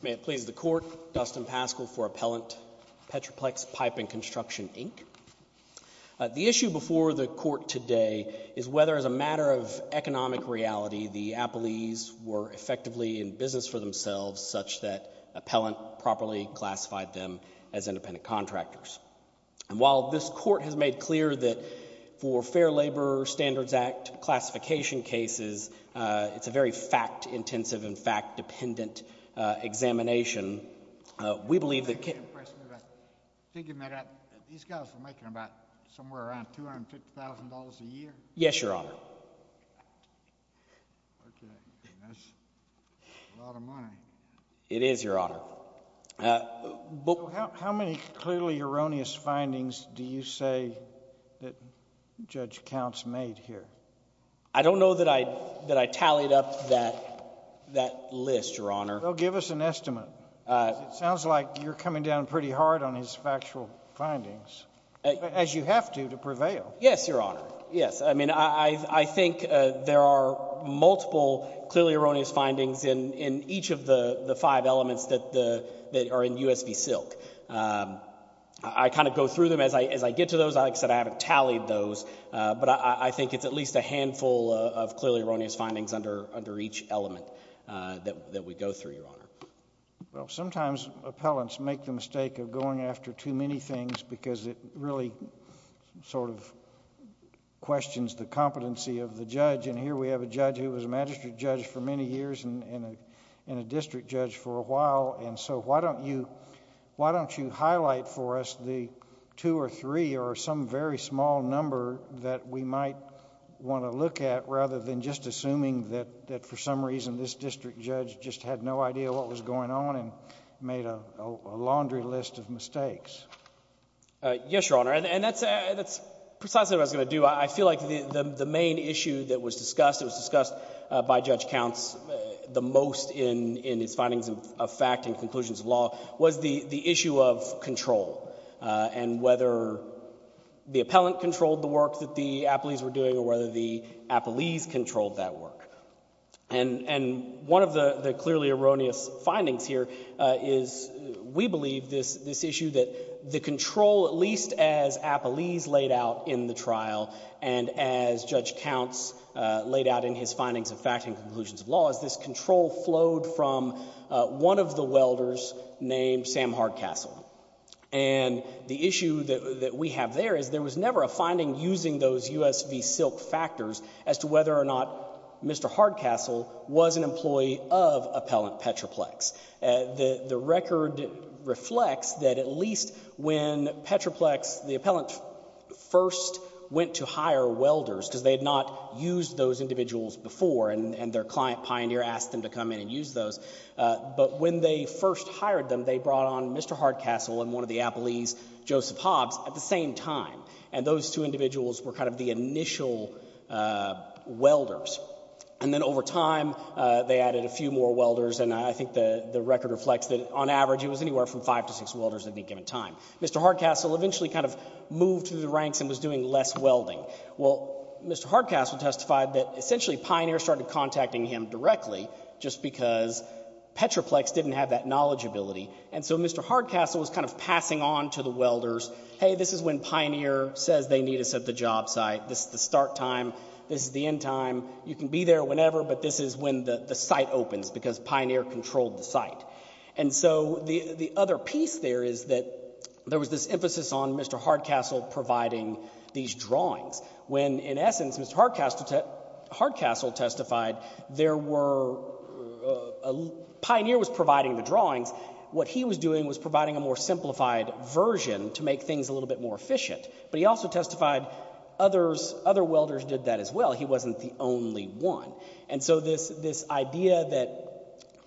May it please the Court, Dustin Paschal for Appellant, Petroplex Pipe and Construction, Inc. The issue before the Court today is whether, as a matter of economic reality, the appellees were effectively in business for themselves such that appellant properly classified them as independent contractors. And while this Court has made clear that for Fair Labor Standards Act classification cases, it's a very fact-intensive and fact-dependent examination, we believe these guys are making about somewhere around $250,000 a year? Yes, your Honor. It is, your honor. How many clearly erroneous findings do you say that Judge Counts made here? I don't know that I that I tallied up that list, your Honor. Well, give us an estimate. It sounds like you're coming down pretty hard on his factual findings, as you have to, to prevail. Yes, your Honor. Yes, I mean, I think there are multiple clearly erroneous findings in each of the five elements that are in U.S. v. Silk. I kind of go through them as I get to those. Like I said, I haven't tallied those, but I think it's at least a handful of clearly erroneous findings under each element that we go through, your Honor. Well, sometimes appellants make the mistake of going after too many things because it really sort of questions the competency of the judge. And here we have a judge who was a magistrate judge for many years and a district judge for a while. And so why don't you highlight for us the two or three or some very small number that we might want to look at rather than just assuming that for some reason this district judge just had no idea what was going on and made a laundry list of mistakes. Yes, your Honor. And that's precisely what I was going to do. I feel like the main issue that was discussed, it was discussed by Judge Counts the most in his findings of fact and conclusions of law, was the issue of control and whether the appellant controlled the work that the appellees were doing or whether the appellees controlled that work. And one of the clearly erroneous findings here is we believe this issue that the control, at least as appellees laid out in the trial and as Judge Counts laid out in his findings of fact and conclusions of law, is this control flowed from one of the welders named Sam Hardcastle. And the issue that we have there is there was never a finding using those USV silk factors as to whether or not Mr. Hardcastle was an employee of Appellant Petroplex. The record reflects that at least when Petroplex, the appellant first went to hire welders because they had not used those individuals before and their client, Pioneer, asked them to come in and use those. But when they first hired them, they brought on Mr. Hardcastle and one of the appellees, Joseph Hobbs, at the same time. And those two individuals were kind of the initial welders. And then over time they added a few more welders and I think the record reflects that on average it was anywhere from five to six welders at any given time. Mr. Hardcastle eventually kind of moved through the ranks and was doing less welding. Well, Mr. Hardcastle testified that essentially Pioneer started contacting him directly just because Petroplex didn't have that knowledgeability. And so Mr. Hardcastle was kind of passing on to the welders, hey, this is when Pioneer says they need us at the job site. This is the start time. This is the end time. You can be there whenever, but this is when the site opens because Pioneer controlled the site. And so the other piece there is that there was this emphasis on Mr. Hardcastle providing these drawings. When, in essence, Mr. Hardcastle testified Pioneer was providing the drawings. What he was doing was providing a more simplified version to make things a little bit more efficient. But he also testified other welders did that as well. He wasn't the only one. And so this idea that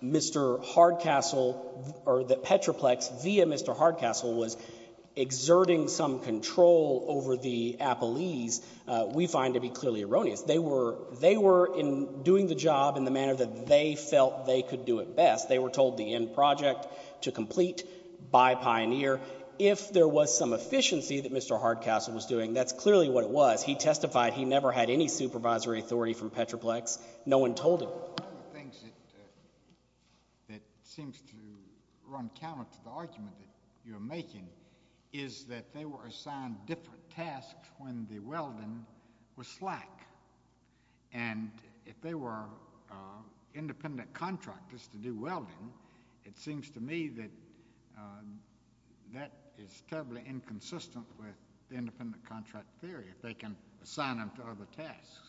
Mr. Hardcastle or that Petroplex, via Mr. Hardcastle, was exerting some control over the appellees, we find to be clearly erroneous. They were in doing the job in the manner that they felt they could do it best. They were told the end project to complete by Pioneer. If there was some efficiency that Mr. Hardcastle was doing, that's clearly what it was. He testified he never had any supervisory authority from Petroplex. No one told him. One of the things that seems to run counter to the argument that you're making is that they were assigned different tasks when the welding was slack. And if they were independent contractors to do welding, it seems to me that that is terribly inconsistent with independent contract theory. They can assign them to other tasks.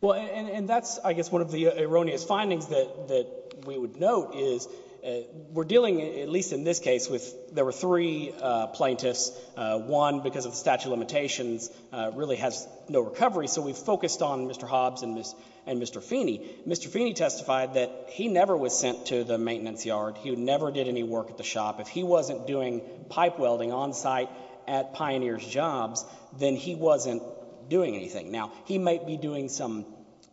Well, and that's, I guess, one of the erroneous findings that we would note is we're dealing, at least in this case, with there were three plaintiffs. One, because of the statute of limitations, really has no recovery, so we focused on Mr. Hobbs and Mr. Feeney. Mr. Feeney testified that he never was sent to the maintenance yard. He never did any work at the shop. If he wasn't doing pipe welding on site at Pioneer's jobs, then he wasn't doing anything. Now, he might be doing some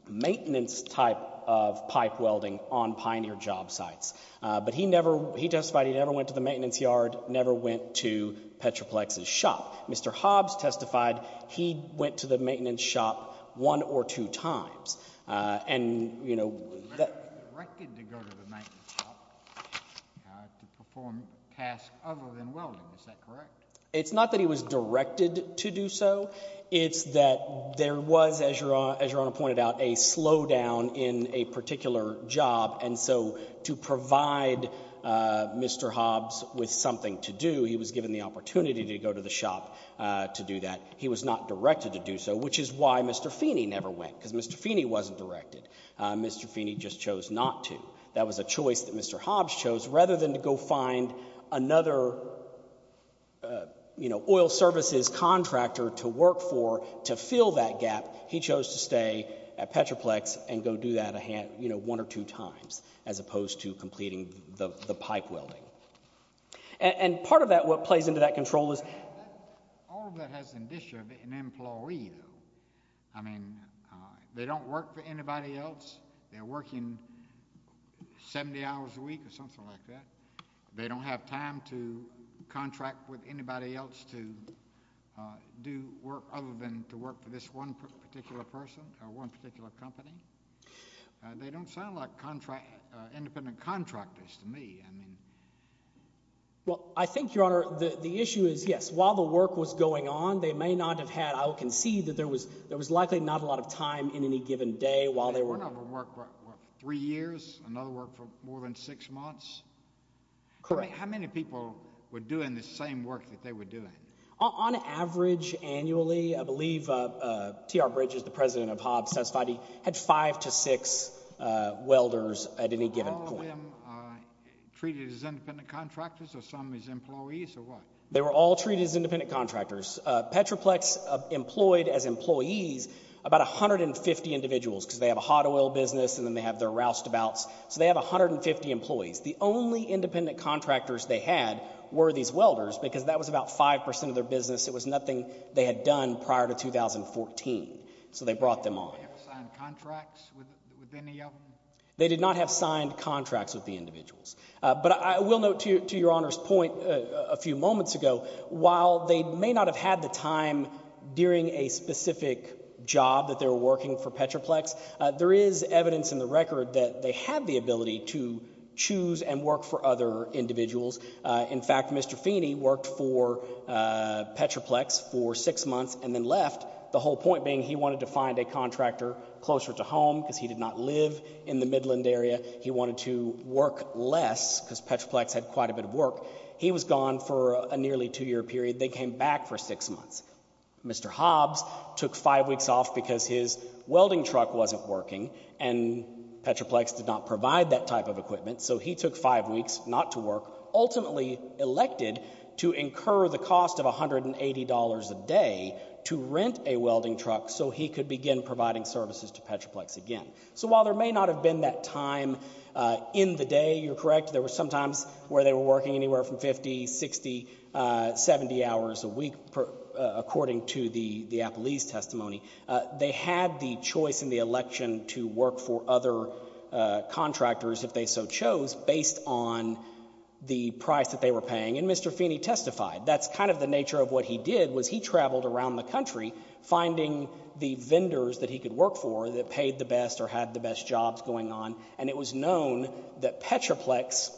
maintenance type of pipe welding on Pioneer job sites, but he testified he never went to the maintenance yard, never went to Petroplex's shop. Mr. Hobbs testified he went to the maintenance shop one or two times. He was directed to go to the maintenance shop to perform tasks other than welding. Is that correct? It's not that he was directed to do so. It's that there was, as Your Honor pointed out, a slowdown in a particular job, and so to provide Mr. Hobbs with something to do, he was given the opportunity to go to the shop to do that. He was not directed to do so, which is why Mr. Feeney never went, because Mr. Feeney wasn't directed. Mr. Feeney just chose not to. That was a choice that Mr. Hobbs chose. Rather than to go find another oil services contractor to work for to fill that gap, he chose to stay at Petroplex and go do that one or two times as opposed to completing the pipe welding. Part of what plays into that control is— All of that has to do with an employee, though. I mean they don't work for anybody else. They're working 70 hours a week or something like that. They don't have time to contract with anybody else to do work other than to work for this one particular person or one particular company. They don't sound like independent contractors to me. Well, I think, Your Honor, the issue is, yes, while the work was going on, they may not have had—I would concede that there was likely not a lot of time in any given day while they were— One of them worked for three years, another worked for more than six months. Correct. How many people were doing the same work that they were doing? On average, annually, I believe T.R. Bridges, the president of Hobbs, satisfied he had five to six welders at any given point. Were all of them treated as independent contractors or some as employees or what? They were all treated as independent contractors. Petroplex employed as employees about 150 individuals because they have a hot oil business and then they have their roustabouts. So they have 150 employees. The only independent contractors they had were these welders because that was about 5 percent of their business. It was nothing they had done prior to 2014. So they brought them on. Did they sign contracts with any of them? They did not have signed contracts with the individuals. But I will note to Your Honor's point a few moments ago, while they may not have had the time during a specific job that they were working for Petroplex, there is evidence in the record that they had the ability to choose and work for other individuals. In fact, Mr. Feeney worked for Petroplex for six months and then left, the whole point being he wanted to find a contractor closer to home because he did not live in the Midland area. He wanted to work less because Petroplex had quite a bit of work. He was gone for a nearly two-year period. They came back for six months. Mr. Hobbs took five weeks off because his welding truck wasn't working and Petroplex did not provide that type of equipment. So he took five weeks not to work, ultimately elected to incur the cost of $180 a day to rent a welding truck so he could begin providing services to Petroplex again. So while there may not have been that time in the day, you're correct, there were some times where they were working anywhere from 50, 60, 70 hours a week, according to the Appleese testimony. They had the choice in the election to work for other contractors if they so chose based on the price that they were paying, and Mr. Feeney testified. That's kind of the nature of what he did was he traveled around the country finding the vendors that he could work for that paid the best or had the best jobs going on, and it was known that Petroplex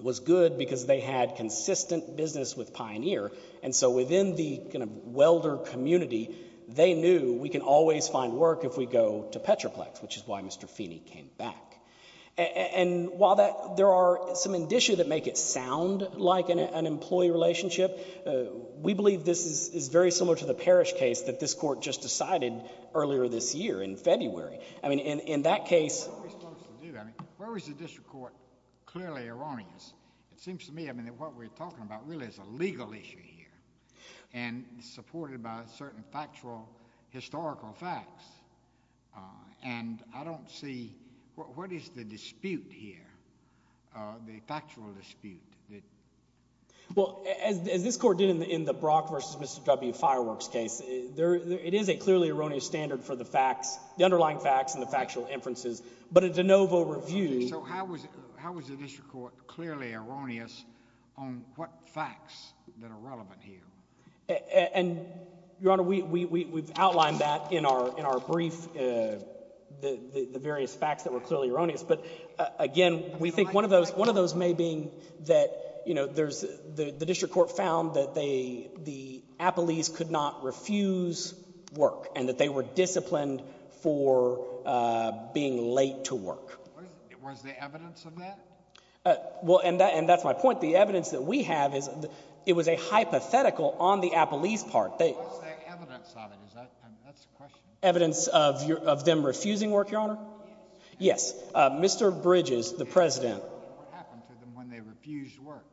was good because they had consistent business with Pioneer. And so within the kind of welder community, they knew we can always find work if we go to Petroplex, which is why Mr. Feeney came back. And while there are some indicia that make it sound like an employee relationship, we believe this is very similar to the Parrish case that this court just decided earlier this year in February. I mean, in that case— Where was the district court clearly erroneous? It seems to me, I mean, that what we're talking about really is a legal issue here and supported by certain factual historical facts, and I don't see—what is the dispute here, the factual dispute? Well, as this court did in the Brock v. Mr. W. fireworks case, it is a clearly erroneous standard for the facts, the underlying facts and the factual inferences. But a de novo review— So how was the district court clearly erroneous on what facts that are relevant here? And, Your Honor, we've outlined that in our brief, the various facts that were clearly erroneous. But, again, we think one of those may be that, you know, there's—the district court found that the Appleys could not refuse work and that they were disciplined for being late to work. Was there evidence of that? Well, and that's my point. The evidence that we have is it was a hypothetical on the Appleys' part. What was the evidence of it? That's the question. Evidence of them refusing work, Your Honor? Yes. Yes. Mr. Bridges, the president— What happened to them when they refused work?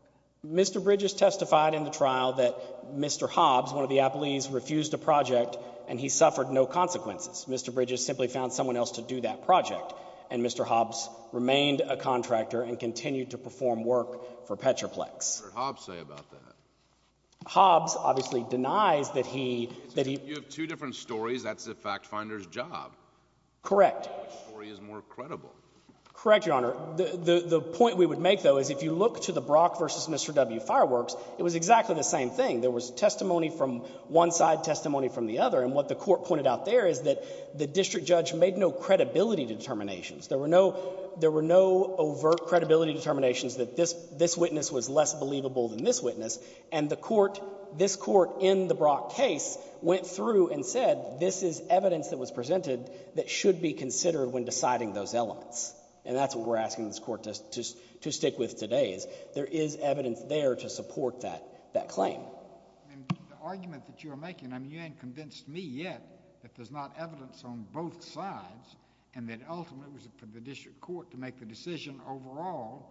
Mr. Bridges testified in the trial that Mr. Hobbs, one of the Appleys, refused a project and he suffered no consequences. Mr. Bridges simply found someone else to do that project, and Mr. Hobbs remained a contractor and continued to perform work for Petroplex. What did Hobbs say about that? Hobbs obviously denies that he— You have two different stories. That's the fact finder's job. Correct. Which story is more credible? Correct, Your Honor. The point we would make, though, is if you look to the Brock v. Mr. W. fireworks, it was exactly the same thing. There was testimony from one side, testimony from the other. And what the court pointed out there is that the district judge made no credibility determinations. There were no overt credibility determinations that this witness was less believable than this witness. And the court—this court in the Brock case went through and said this is evidence that was presented that should be considered when deciding those elements. And that's what we're asking this court to stick with today is there is evidence there to support that claim. And the argument that you are making, I mean, you haven't convinced me yet that there's not evidence on both sides and that ultimately it was for the district court to make the decision overall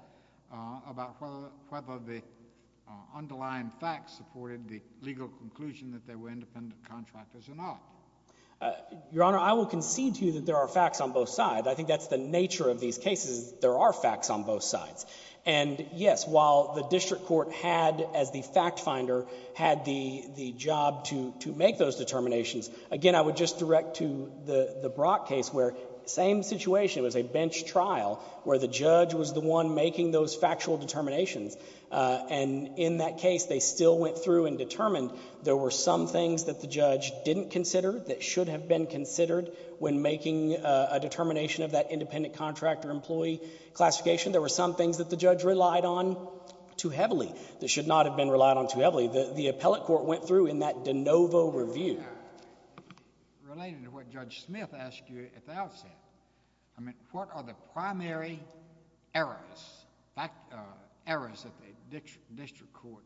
about whether the underlying facts supported the legal conclusion that they were independent contractors or not. Your Honor, I will concede to you that there are facts on both sides. I think that's the nature of these cases is there are facts on both sides. And, yes, while the district court had, as the fact finder, had the job to make those determinations, again, I would just direct to the Brock case where same situation. It was a bench trial where the judge was the one making those factual determinations. And in that case, they still went through and determined there were some things that the judge didn't consider that should have been considered when making a determination of that independent contractor employee classification. There were some things that the judge relied on too heavily that should not have been relied on too heavily. The appellate court went through in that de novo review. Related to what Judge Smith asked you at the outset, I mean, what are the primary errors that the district court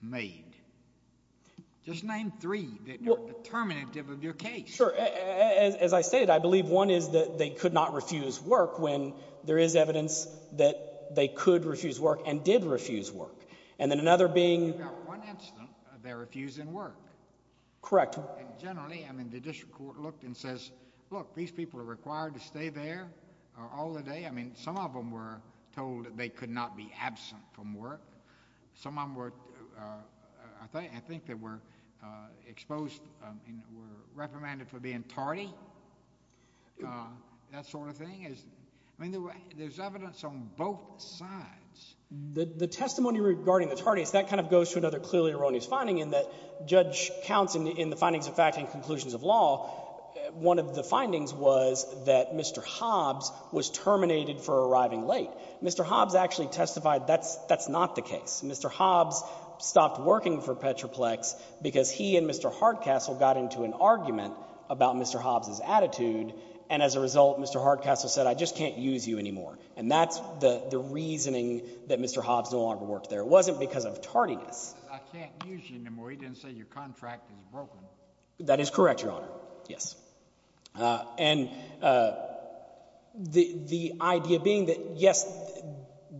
made? Just name three that were determinative of your case. Sure. As I said, I believe one is that they could not refuse work when there is evidence that they could refuse work and did refuse work. And then another being… You've got one incident of their refusing work. Correct. And generally, I mean, the district court looked and says, look, these people are required to stay there all the day. I mean, some of them were told that they could not be absent from work. Some of them were, I think they were exposed and were reprimanded for being tardy, that sort of thing. I mean, there's evidence on both sides. The testimony regarding the tardiness, that kind of goes to another clearly erroneous finding in that judge counts in the findings of fact and conclusions of law. One of the findings was that Mr. Hobbs was terminated for arriving late. Mr. Hobbs actually testified that that's not the case. Mr. Hobbs stopped working for Petroplex because he and Mr. Hardcastle got into an argument about Mr. Hobbs' attitude. And as a result, Mr. Hardcastle said I just can't use you anymore. And that's the reasoning that Mr. Hobbs no longer worked there. It wasn't because of tardiness. I can't use you anymore. He didn't say your contract is broken. That is correct, Your Honor. Yes. And the idea being that, yes,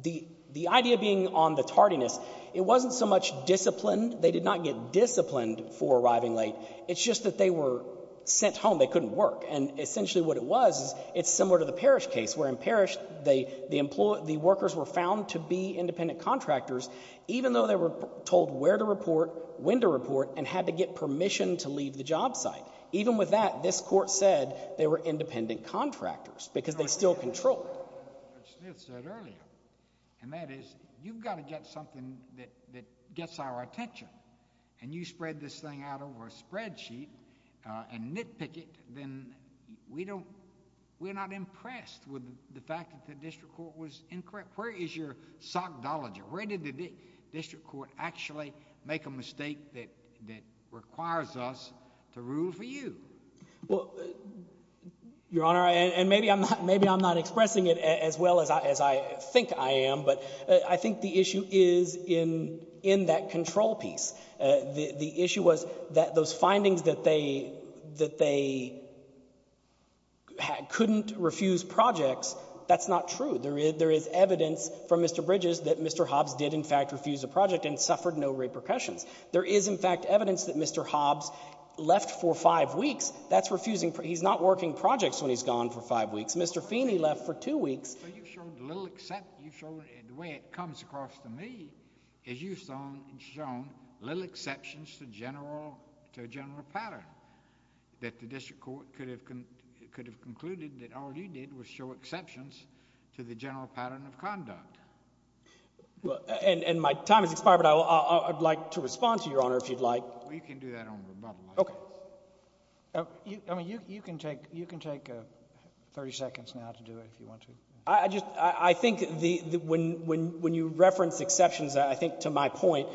the idea being on the tardiness, it wasn't so much disciplined. They did not get disciplined for arriving late. It's just that they were sent home. They couldn't work. And essentially what it was is it's similar to the Parrish case where in Parrish the workers were found to be independent contractors even though they were told where to report, when to report, and had to get permission to leave the job site. Even with that, this court said they were independent contractors because they still controlled. Judge Smith said earlier, and that is you've got to get something that gets our attention. And you spread this thing out over a spreadsheet and nitpick it, then we don't—we're not impressed with the fact that the district court was incorrect. Where is your sockdology? Where did the district court actually make a mistake that requires us to rule for you? Well, Your Honor, and maybe I'm not expressing it as well as I think I am, but I think the issue is in that control piece. The issue was that those findings that they couldn't refuse projects, that's not true. There is evidence from Mr. Bridges that Mr. Hobbs did in fact refuse a project and suffered no repercussions. There is in fact evidence that Mr. Hobbs left for five weeks. That's refusing—he's not working projects when he's gone for five weeks. Mr. Feeney left for two weeks. Well, you've shown little—the way it comes across to me is you've shown little exceptions to general pattern, that the district court could have concluded that all you did was show exceptions to the general pattern of conduct. And my time has expired, but I'd like to respond to Your Honor if you'd like. Well, you can do that on rebuttal. Okay. I mean, you can take 30 seconds now to do it if you want to. I just—I think when you reference exceptions, I think to my point,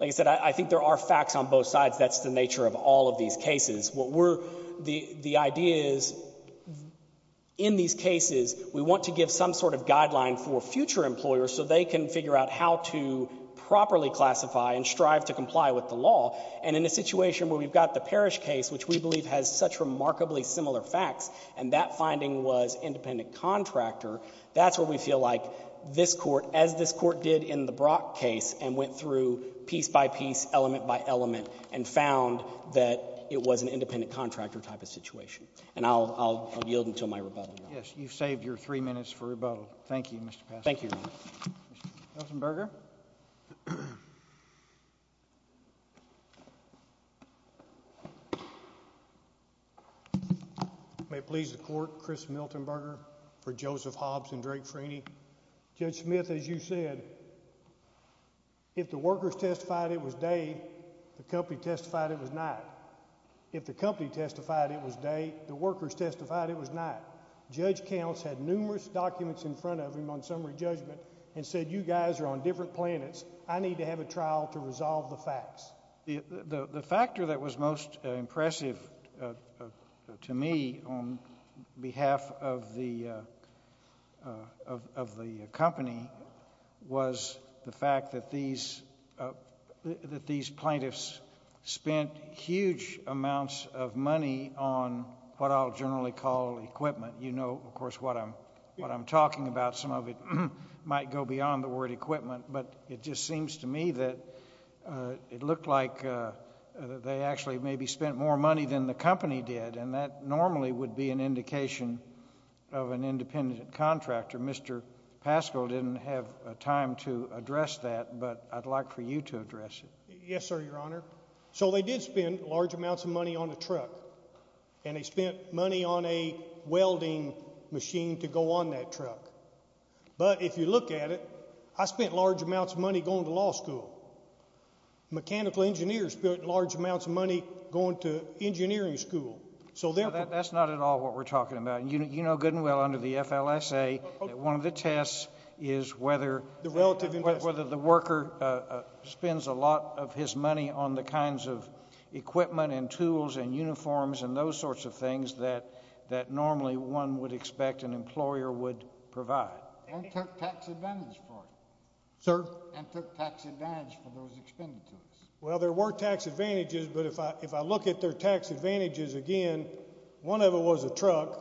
like I said, I think there are facts on both sides. That's the nature of all of these cases. What we're—the idea is in these cases we want to give some sort of guideline for future employers so they can figure out how to properly classify and strive to comply with the law. And in a situation where we've got the Parrish case, which we believe has such remarkably similar facts, and that finding was independent contractor, that's where we feel like this court, as this court did in the Brock case and went through piece by piece, element by element, and found that it was an independent contractor type of situation. And I'll yield until my rebuttal, Your Honor. Yes. You've saved your three minutes for rebuttal. Thank you, Mr. Pasternak. Thank you, Your Honor. Milton Berger. May it please the Court, Chris Milton Berger for Joseph Hobbs and Drake Freeney. Judge Smith, as you said, if the workers testified it was day, the company testified it was night. If the company testified it was day, the workers testified it was night. Judge Counts had numerous documents in front of him on summary judgment and said, You guys are on different planets. I need to have a trial to resolve the facts. The factor that was most impressive to me on behalf of the company was the fact that these plaintiffs spent huge amounts of money on what I'll generally call equipment. You know, of course, what I'm talking about. Some of it might go beyond the word equipment, but it just seems to me that it looked like they actually maybe spent more money than the company did, and that normally would be an indication of an independent contractor. Mr. Paschal didn't have time to address that, but I'd like for you to address it. Yes, sir, Your Honor. So they did spend large amounts of money on a truck, and they spent money on a welding machine to go on that truck. But if you look at it, I spent large amounts of money going to law school. Mechanical engineers spent large amounts of money going to engineering school. That's not at all what we're talking about. You know good and well under the FLSA that one of the tests is whether the worker spends a lot of his money on the kinds of equipment and tools and uniforms and those sorts of things that normally one would expect an employer would provide. And took tax advantage for it. Sir? And took tax advantage for those expended to it. Well, there were tax advantages, but if I look at their tax advantages again, one of them was a truck,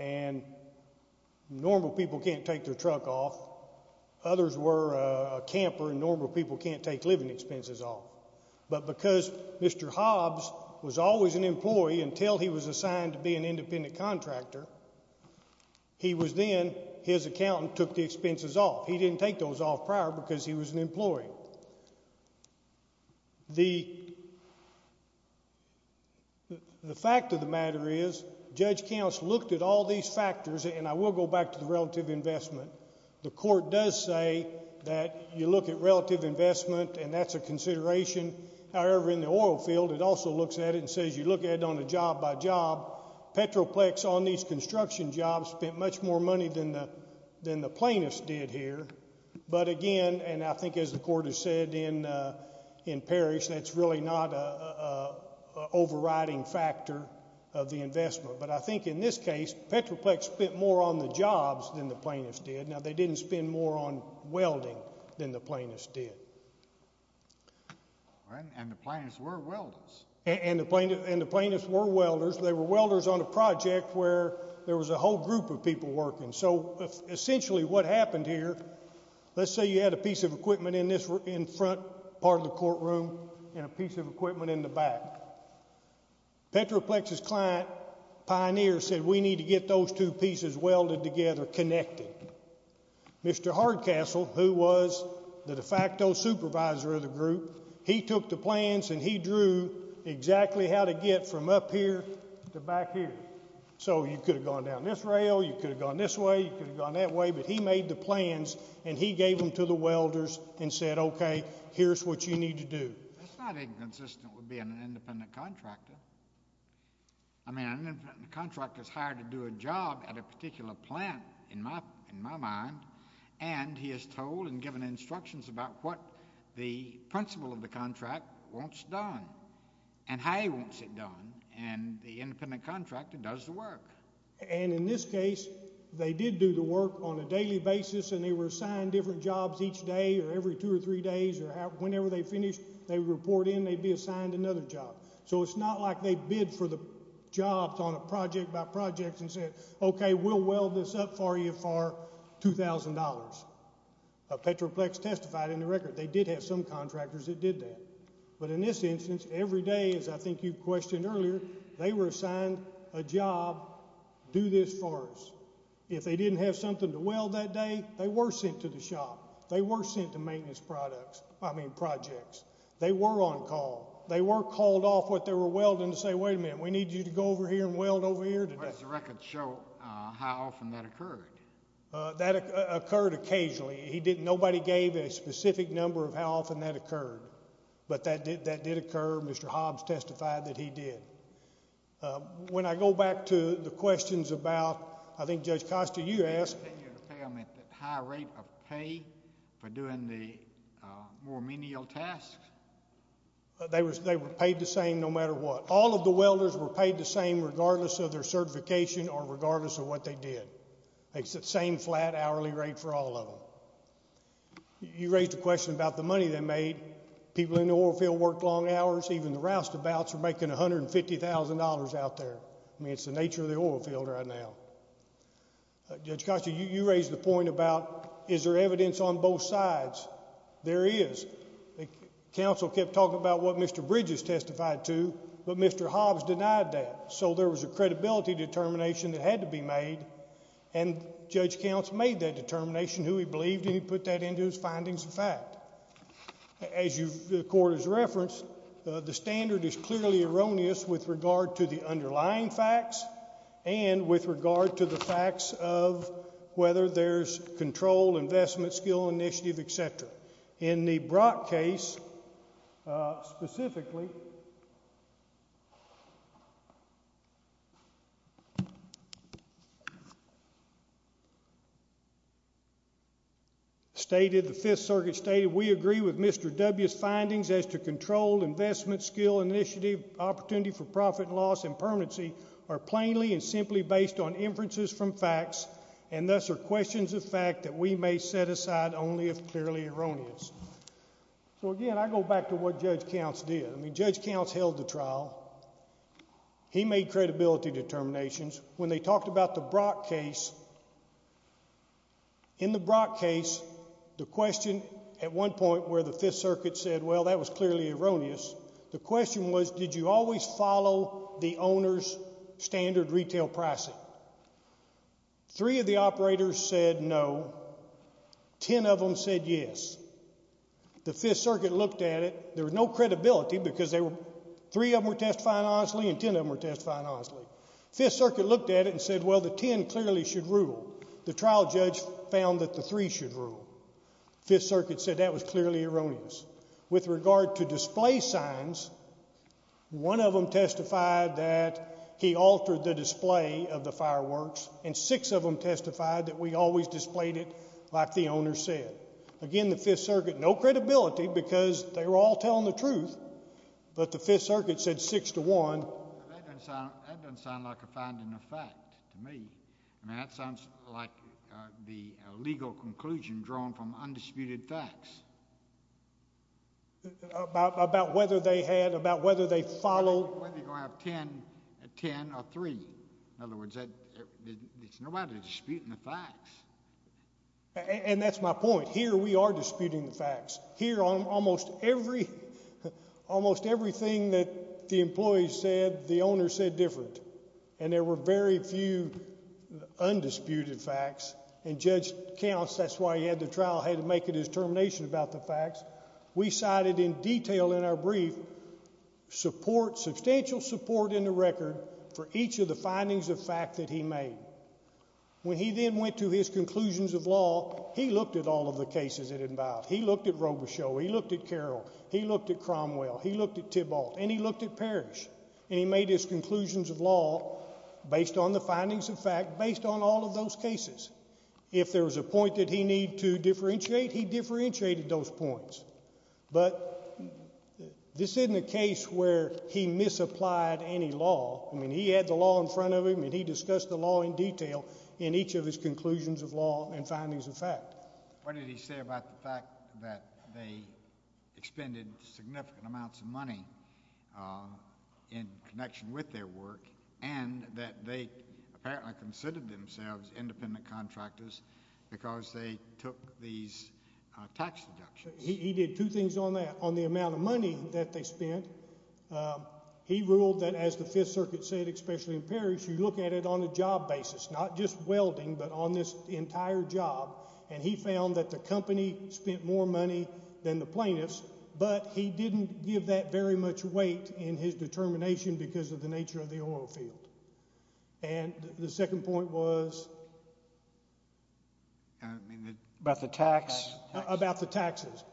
and normal people can't take their truck off. Others were a camper, and normal people can't take living expenses off. But because Mr. Hobbs was always an employee until he was assigned to be an independent contractor, he was then, his accountant took the expenses off. He didn't take those off prior because he was an employee. The fact of the matter is Judge Counts looked at all these factors, and I will go back to the relative investment. The court does say that you look at relative investment and that's a consideration. However, in the oil field it also looks at it and says you look at it on a job by job. Petroplex on these construction jobs spent much more money than the plaintiffs did here. But again, and I think as the court has said in Parrish, that's really not an overriding factor of the investment. But I think in this case Petroplex spent more on the jobs than the plaintiffs did. Now, they didn't spend more on welding than the plaintiffs did. And the plaintiffs were welders. And the plaintiffs were welders. They were welders on a project where there was a whole group of people working. So essentially what happened here, let's say you had a piece of equipment in this front part of the courtroom and a piece of equipment in the back. Petroplex's client, Pioneer, said we need to get those two pieces welded together, connected. Mr. Hardcastle, who was the de facto supervisor of the group, he took the plans and he drew exactly how to get from up here to back here. So you could have gone down this rail. You could have gone this way. You could have gone that way. But he made the plans and he gave them to the welders and said, okay, here's what you need to do. That's not inconsistent with being an independent contractor. I mean, an independent contractor is hired to do a job at a particular plant, in my mind, and he is told and given instructions about what the principle of the contract wants done and how he wants it done, and the independent contractor does the work. And in this case, they did do the work on a daily basis and they were assigned different jobs each day or every two or three days or whenever they finished, they would report in and they'd be assigned another job. So it's not like they bid for the jobs on a project by project and said, okay, we'll weld this up for you for $2,000. Petroplex testified in the record. They did have some contractors that did that. But in this instance, every day, as I think you questioned earlier, they were assigned a job, do this for us. If they didn't have something to weld that day, they were sent to the shop. They were sent to maintenance products, I mean projects. They were on call. They were called off what they were welding to say, wait a minute, we need you to go over here and weld over here today. Does the record show how often that occurred? That occurred occasionally. Nobody gave a specific number of how often that occurred. But that did occur. Mr. Hobbs testified that he did. When I go back to the questions about, I think Judge Costa, you asked. The higher rate of pay for doing the more menial tasks. They were paid the same no matter what. All of the welders were paid the same regardless of their certification or regardless of what they did. It's the same flat hourly rate for all of them. You raised a question about the money they made. People in the oil field worked long hours. Even the roustabouts are making $150,000 out there. I mean it's the nature of the oil field right now. Judge Costa, you raised the point about is there evidence on both sides? There is. The council kept talking about what Mr. Bridges testified to, but Mr. Hobbs denied that. So there was a credibility determination that had to be made, and Judge Counts made that determination, who he believed, and he put that into his findings of fact. As the court has referenced, the standard is clearly erroneous with regard to the underlying facts and with regard to the facts of whether there's control, investment, skill, initiative, et cetera. In the Brock case specifically, the Fifth Circuit stated, we agree with Mr. W's findings as to control, investment, skill, initiative, opportunity for profit and loss, and permanency are plainly and simply based on inferences from facts, and thus are questions of fact that we may set aside only if clearly erroneous. So again, I go back to what Judge Counts did. I mean Judge Counts held the trial. He made credibility determinations. When they talked about the Brock case, in the Brock case, the question at one point where the Fifth Circuit said, well, that was clearly erroneous, the question was did you always follow the owner's standard retail pricing? Three of the operators said no. Ten of them said yes. The Fifth Circuit looked at it. There was no credibility because three of them were testifying honestly and ten of them were testifying honestly. The Fifth Circuit looked at it and said, well, the ten clearly should rule. The trial judge found that the three should rule. The Fifth Circuit said that was clearly erroneous. With regard to display signs, one of them testified that he altered the display of the fireworks, and six of them testified that we always displayed it like the owner said. Again, the Fifth Circuit, no credibility because they were all telling the truth, but the Fifth Circuit said six to one. That doesn't sound like a finding of fact to me. I mean, that sounds like the legal conclusion drawn from undisputed facts. About whether they had, about whether they followed. Whether you're going to have ten or three. In other words, there's nobody disputing the facts. And that's my point. Here we are disputing the facts. Here almost everything that the employees said, the owners said different, and there were very few undisputed facts. And Judge Counts, that's why he had the trial, had to make a determination about the facts. We cited in detail in our brief support, substantial support in the record, for each of the findings of fact that he made. When he then went to his conclusions of law, he looked at all of the cases that involved. He looked at Robichaux. He looked at Carroll. He looked at Cromwell. He looked at Tybalt. And he looked at Parrish. And he made his conclusions of law based on the findings of fact, based on all of those cases. If there was a point that he needed to differentiate, he differentiated those points. But this isn't a case where he misapplied any law. I mean, he had the law in front of him, and he discussed the law in detail in each of his conclusions of law and findings of fact. What did he say about the fact that they expended significant amounts of money in connection with their work and that they apparently considered themselves independent contractors because they took these tax deductions? He did two things on that, on the amount of money that they spent. He ruled that, as the Fifth Circuit said, especially in Parrish, you look at it on a job basis, not just welding but on this entire job. And he found that the company spent more money than the plaintiffs, but he didn't give that very much weight in his determination because of the nature of the oil field. And the second point was? About the tax. About the taxes.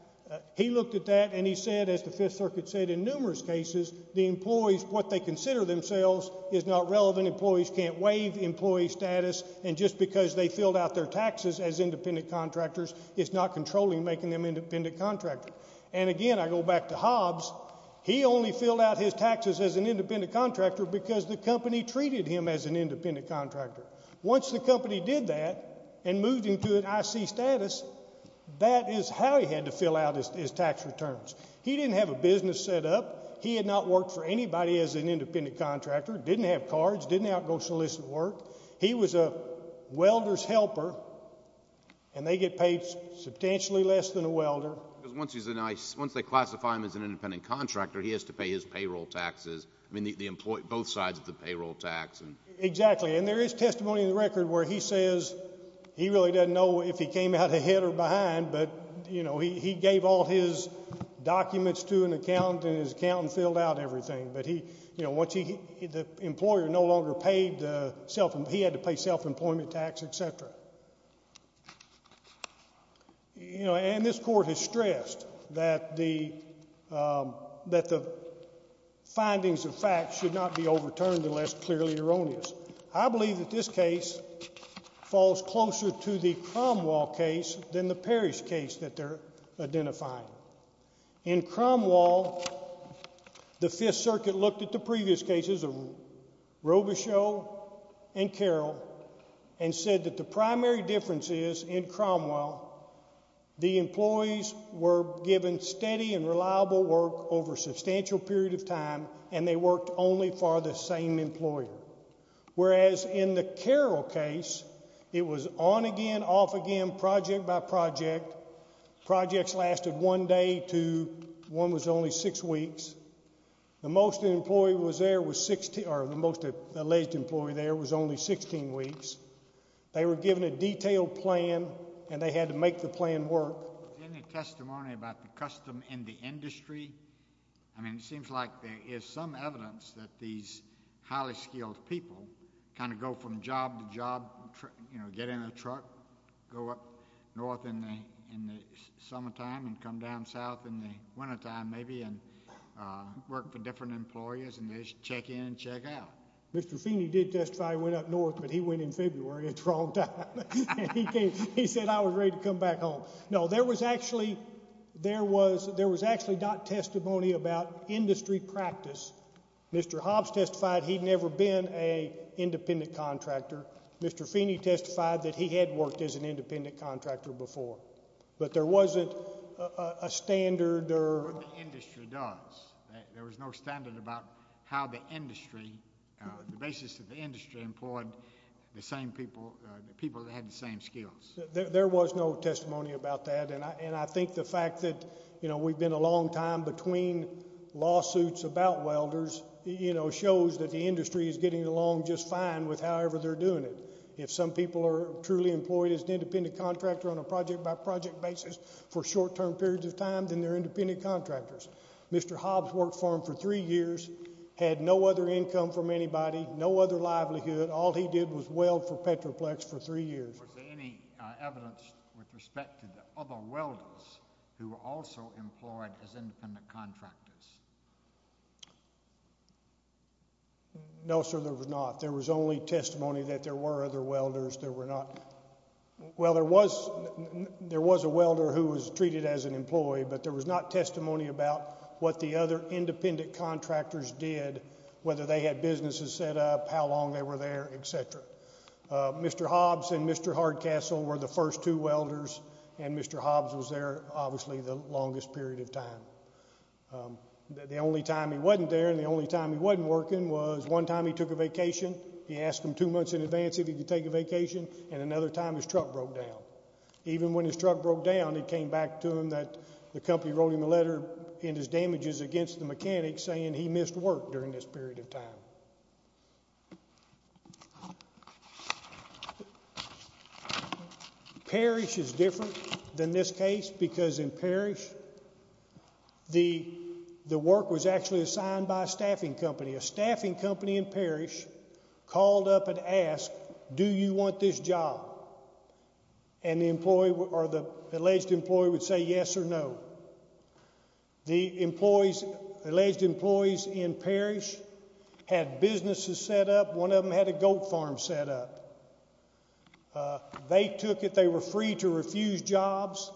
He looked at that, and he said, as the Fifth Circuit said, in numerous cases, the employees, what they consider themselves, is not relevant. Employees can't waive employee status. And just because they filled out their taxes as independent contractors is not controlling making them independent contractors. And, again, I go back to Hobbs. He only filled out his taxes as an independent contractor because the company treated him as an independent contractor. Once the company did that and moved him to an IC status, that is how he had to fill out his tax returns. He didn't have a business set up. He had not worked for anybody as an independent contractor, didn't have cards, didn't have solicit work. He was a welder's helper, and they get paid substantially less than a welder. Because once they classify him as an independent contractor, he has to pay his payroll taxes, both sides of the payroll tax. Exactly. And there is testimony in the record where he says he really doesn't know if he came out ahead or behind, but he gave all his documents to an accountant, and his accountant filled out everything. But once the employer no longer paid, he had to pay self-employment tax, et cetera. And this court has stressed that the findings of facts should not be overturned unless clearly erroneous. I believe that this case falls closer to the Cromwell case than the Parrish case that they're identifying. In Cromwell, the Fifth Circuit looked at the previous cases of Robichaud and Carroll and said that the primary difference is in Cromwell, the employees were given steady and reliable work over a substantial period of time, and they worked only for the same employer, whereas in the Carroll case, it was on again, off again, project by project. Projects lasted one day to—one was only six weeks. The most employee was there was—or the most alleged employee there was only 16 weeks. They were given a detailed plan, and they had to make the plan work. Is there any testimony about the custom in the industry? I mean, it seems like there is some evidence that these highly skilled people kind of go from job to job, you know, get in a truck, go up north in the summertime and come down south in the wintertime maybe and work for different employers and they just check in and check out. Mr. Feeney did testify he went up north, but he went in February. It's the wrong time. He said, I was ready to come back home. No, there was actually—there was actually not testimony about industry practice. Mr. Hobbs testified he'd never been an independent contractor. Mr. Feeney testified that he had worked as an independent contractor before, but there wasn't a standard or— The industry does. There was no standard about how the industry—the basis of the industry employed the same people, the people that had the same skills. There was no testimony about that, and I think the fact that, you know, we've been a long time between lawsuits about welders, you know, shows that the industry is getting along just fine with however they're doing it. If some people are truly employed as an independent contractor on a project-by-project basis for short-term periods of time, then they're independent contractors. Mr. Hobbs worked for them for three years, had no other income from anybody, no other livelihood. All he did was weld for Petroplex for three years. Was there any evidence with respect to the other welders who were also employed as independent contractors? No, sir, there was not. There was only testimony that there were other welders that were not— Well, there was a welder who was treated as an employee, but there was not testimony about what the other independent contractors did, whether they had businesses set up, how long they were there, et cetera. Mr. Hobbs and Mr. Hardcastle were the first two welders, and Mr. Hobbs was there, obviously, the longest period of time. The only time he wasn't there and the only time he wasn't working was one time he took a vacation. He asked him two months in advance if he could take a vacation, and another time his truck broke down. Even when his truck broke down, it came back to him that the company wrote him a letter in his damages against the mechanics saying he missed work during this period of time. Parrish is different than this case because in Parrish, the work was actually assigned by a staffing company. A staffing company in Parrish called up and asked, Do you want this job? And the employee or the alleged employee would say yes or no. The employees, alleged employees in Parrish had businesses set up. One of them had a goat farm set up. They took it. They were free to refuse jobs.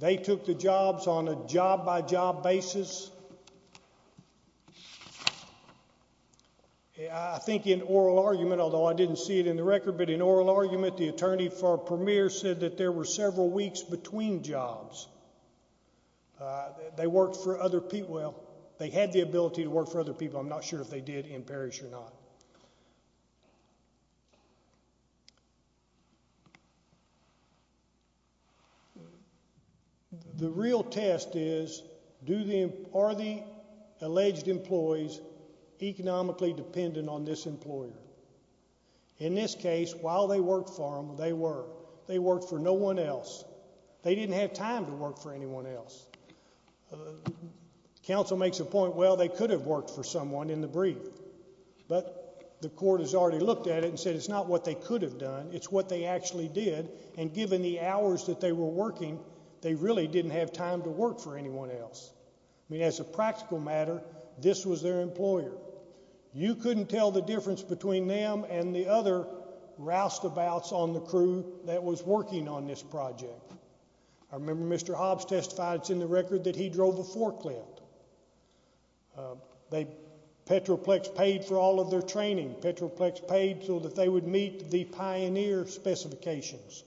They took the jobs on a job-by-job basis. I think in oral argument, although I didn't see it in the record, but in oral argument, the attorney for Premier said that there were several weeks between jobs. They worked for other people. Well, they had the ability to work for other people. I'm not sure if they did in Parrish or not. The real test is, are the alleged employees economically dependent on this employer? In this case, while they worked for them, they were. They worked for no one else. They didn't have time to work for anyone else. Counsel makes a point, well, they could have worked for someone in the brief, but the court has already looked at it and said it's not what they could have done. It's what they actually did, and given the hours that they were working, they really didn't have time to work for anyone else. I mean, as a practical matter, this was their employer. You couldn't tell the difference between them and the other roustabouts on the crew that was working on this project. I remember Mr. Hobbs testified, it's in the record, that he drove a forklift. Petroplex paid for all of their training. Petroplex paid so that they would meet the pioneer specifications.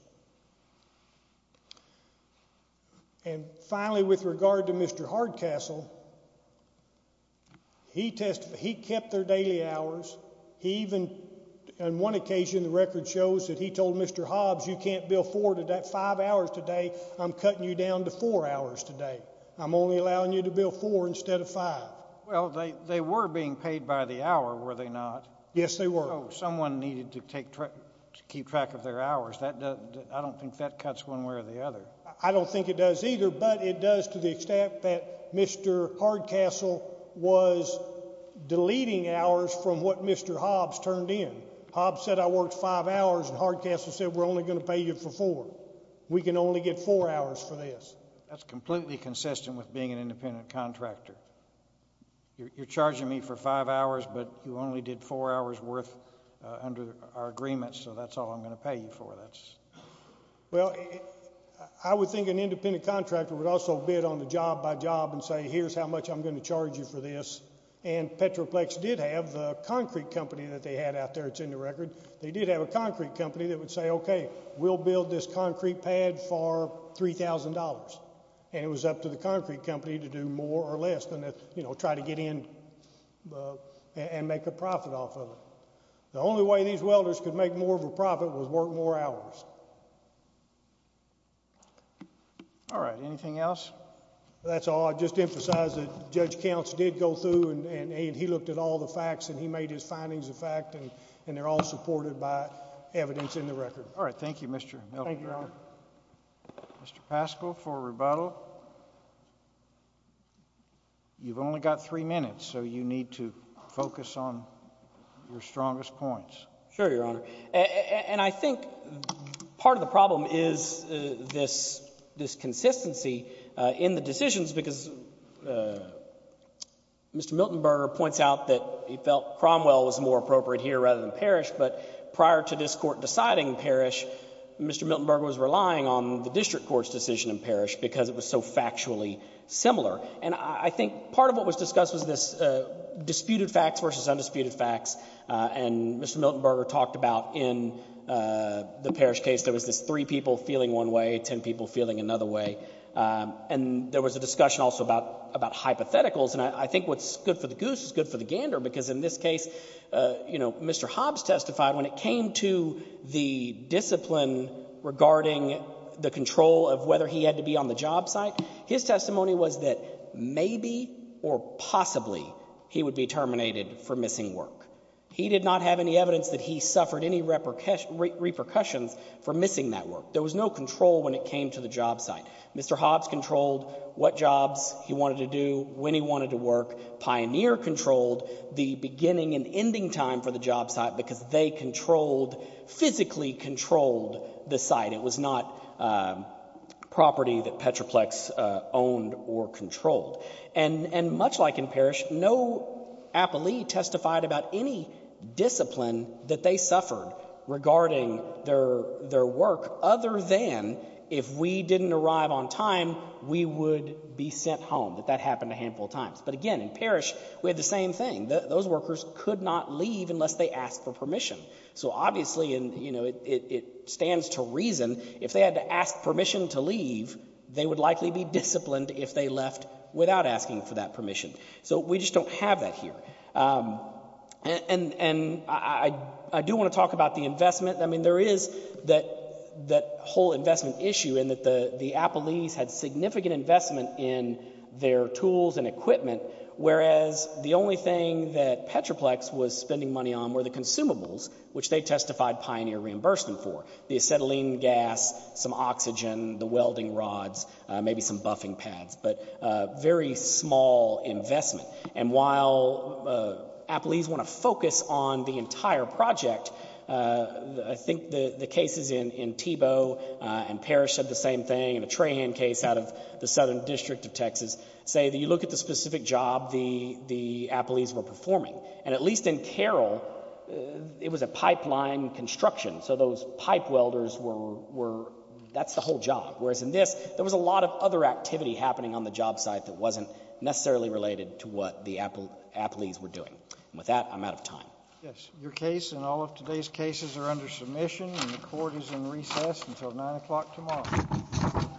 And finally, with regard to Mr. Hardcastle, he kept their daily hours. He even, on one occasion, the record shows that he told Mr. Hobbs, you can't bill five hours today, I'm cutting you down to four hours today. I'm only allowing you to bill four instead of five. Well, they were being paid by the hour, were they not? Yes, they were. So someone needed to keep track of their hours. I don't think that cuts one way or the other. I don't think it does either, but it does to the extent that Mr. Hardcastle was deleting hours from what Mr. Hobbs turned in. Hobbs said, I worked five hours, and Hardcastle said, we're only going to pay you for four. We can only get four hours for this. That's completely consistent with being an independent contractor. You're charging me for five hours, but you only did four hours worth under our agreement, so that's all I'm going to pay you for. Well, I would think an independent contractor would also bid on the job by job and say, here's how much I'm going to charge you for this, and Petroplex did have the concrete company that they had out there. It's in the record. They did have a concrete company that would say, okay, we'll build this concrete pad for $3,000, and it was up to the concrete company to do more or less than try to get in and make a profit off of it. The only way these welders could make more of a profit was work more hours. All right. Anything else? That's all. I'd just emphasize that Judge Counts did go through, and he looked at all the facts, and he made his findings a fact, and they're all supported by evidence in the record. Thank you, Mr. Melton. Thank you, Your Honor. Mr. Paschal for rebuttal. You've only got three minutes, so you need to focus on your strongest points. Sure, Your Honor. And I think part of the problem is this consistency in the decisions, because Mr. Miltonberger points out that he felt Cromwell was more appropriate here rather than Parrish, but prior to this Court deciding Parrish, Mr. Miltonberger was relying on the district court's decision in Parrish because it was so factually similar. And I think part of what was discussed was this disputed facts versus undisputed facts, and Mr. Miltonberger talked about in the Parrish case there was this three people feeling one way, ten people feeling another way, and there was a discussion also about hypotheticals, and I think what's good for the goose is good for the gander, because in this case, you know, Mr. Hobbs testified when it came to the discipline regarding the control of whether he had to be on the job site, his testimony was that maybe or possibly he would be terminated for missing work. He did not have any evidence that he suffered any repercussions for missing that work. There was no control when it came to the job site. Mr. Hobbs controlled what jobs he wanted to do, when he wanted to work. Pioneer controlled the beginning and ending time for the job site because they controlled, physically controlled the site. It was not property that Petroplex owned or controlled. And much like in Parrish, no appellee testified about any discipline that they suffered regarding their work other than if we didn't arrive on time, we would be sent home. That happened a handful of times. But again, in Parrish, we had the same thing. Those workers could not leave unless they asked for permission. So obviously, you know, it stands to reason if they had to ask permission to leave, they would likely be disciplined if they left without asking for that permission. So we just don't have that here. And I do want to talk about the investment. I mean, there is that whole investment issue in that the appellees had significant investment in their tools and equipment, whereas the only thing that Petroplex was spending money on were the consumables, which they testified Pioneer reimbursed them for, the acetylene gas, some oxygen, the welding rods, maybe some buffing pads, but very small investment. And while appellees want to focus on the entire project, I think the cases in Thiebaud and Parrish said the same thing, and a Trahan case out of the Southern District of Texas, say that you look at the specific job the appellees were performing, and at least in Carroll, it was a pipeline construction, so those pipe welders were, that's the whole job, whereas in this, there was a lot of other activity happening on the job site that wasn't necessarily related to what the appellees were doing. And with that, I'm out of time. Yes, your case and all of today's cases are under submission, and the court is in recess until 9 o'clock tomorrow.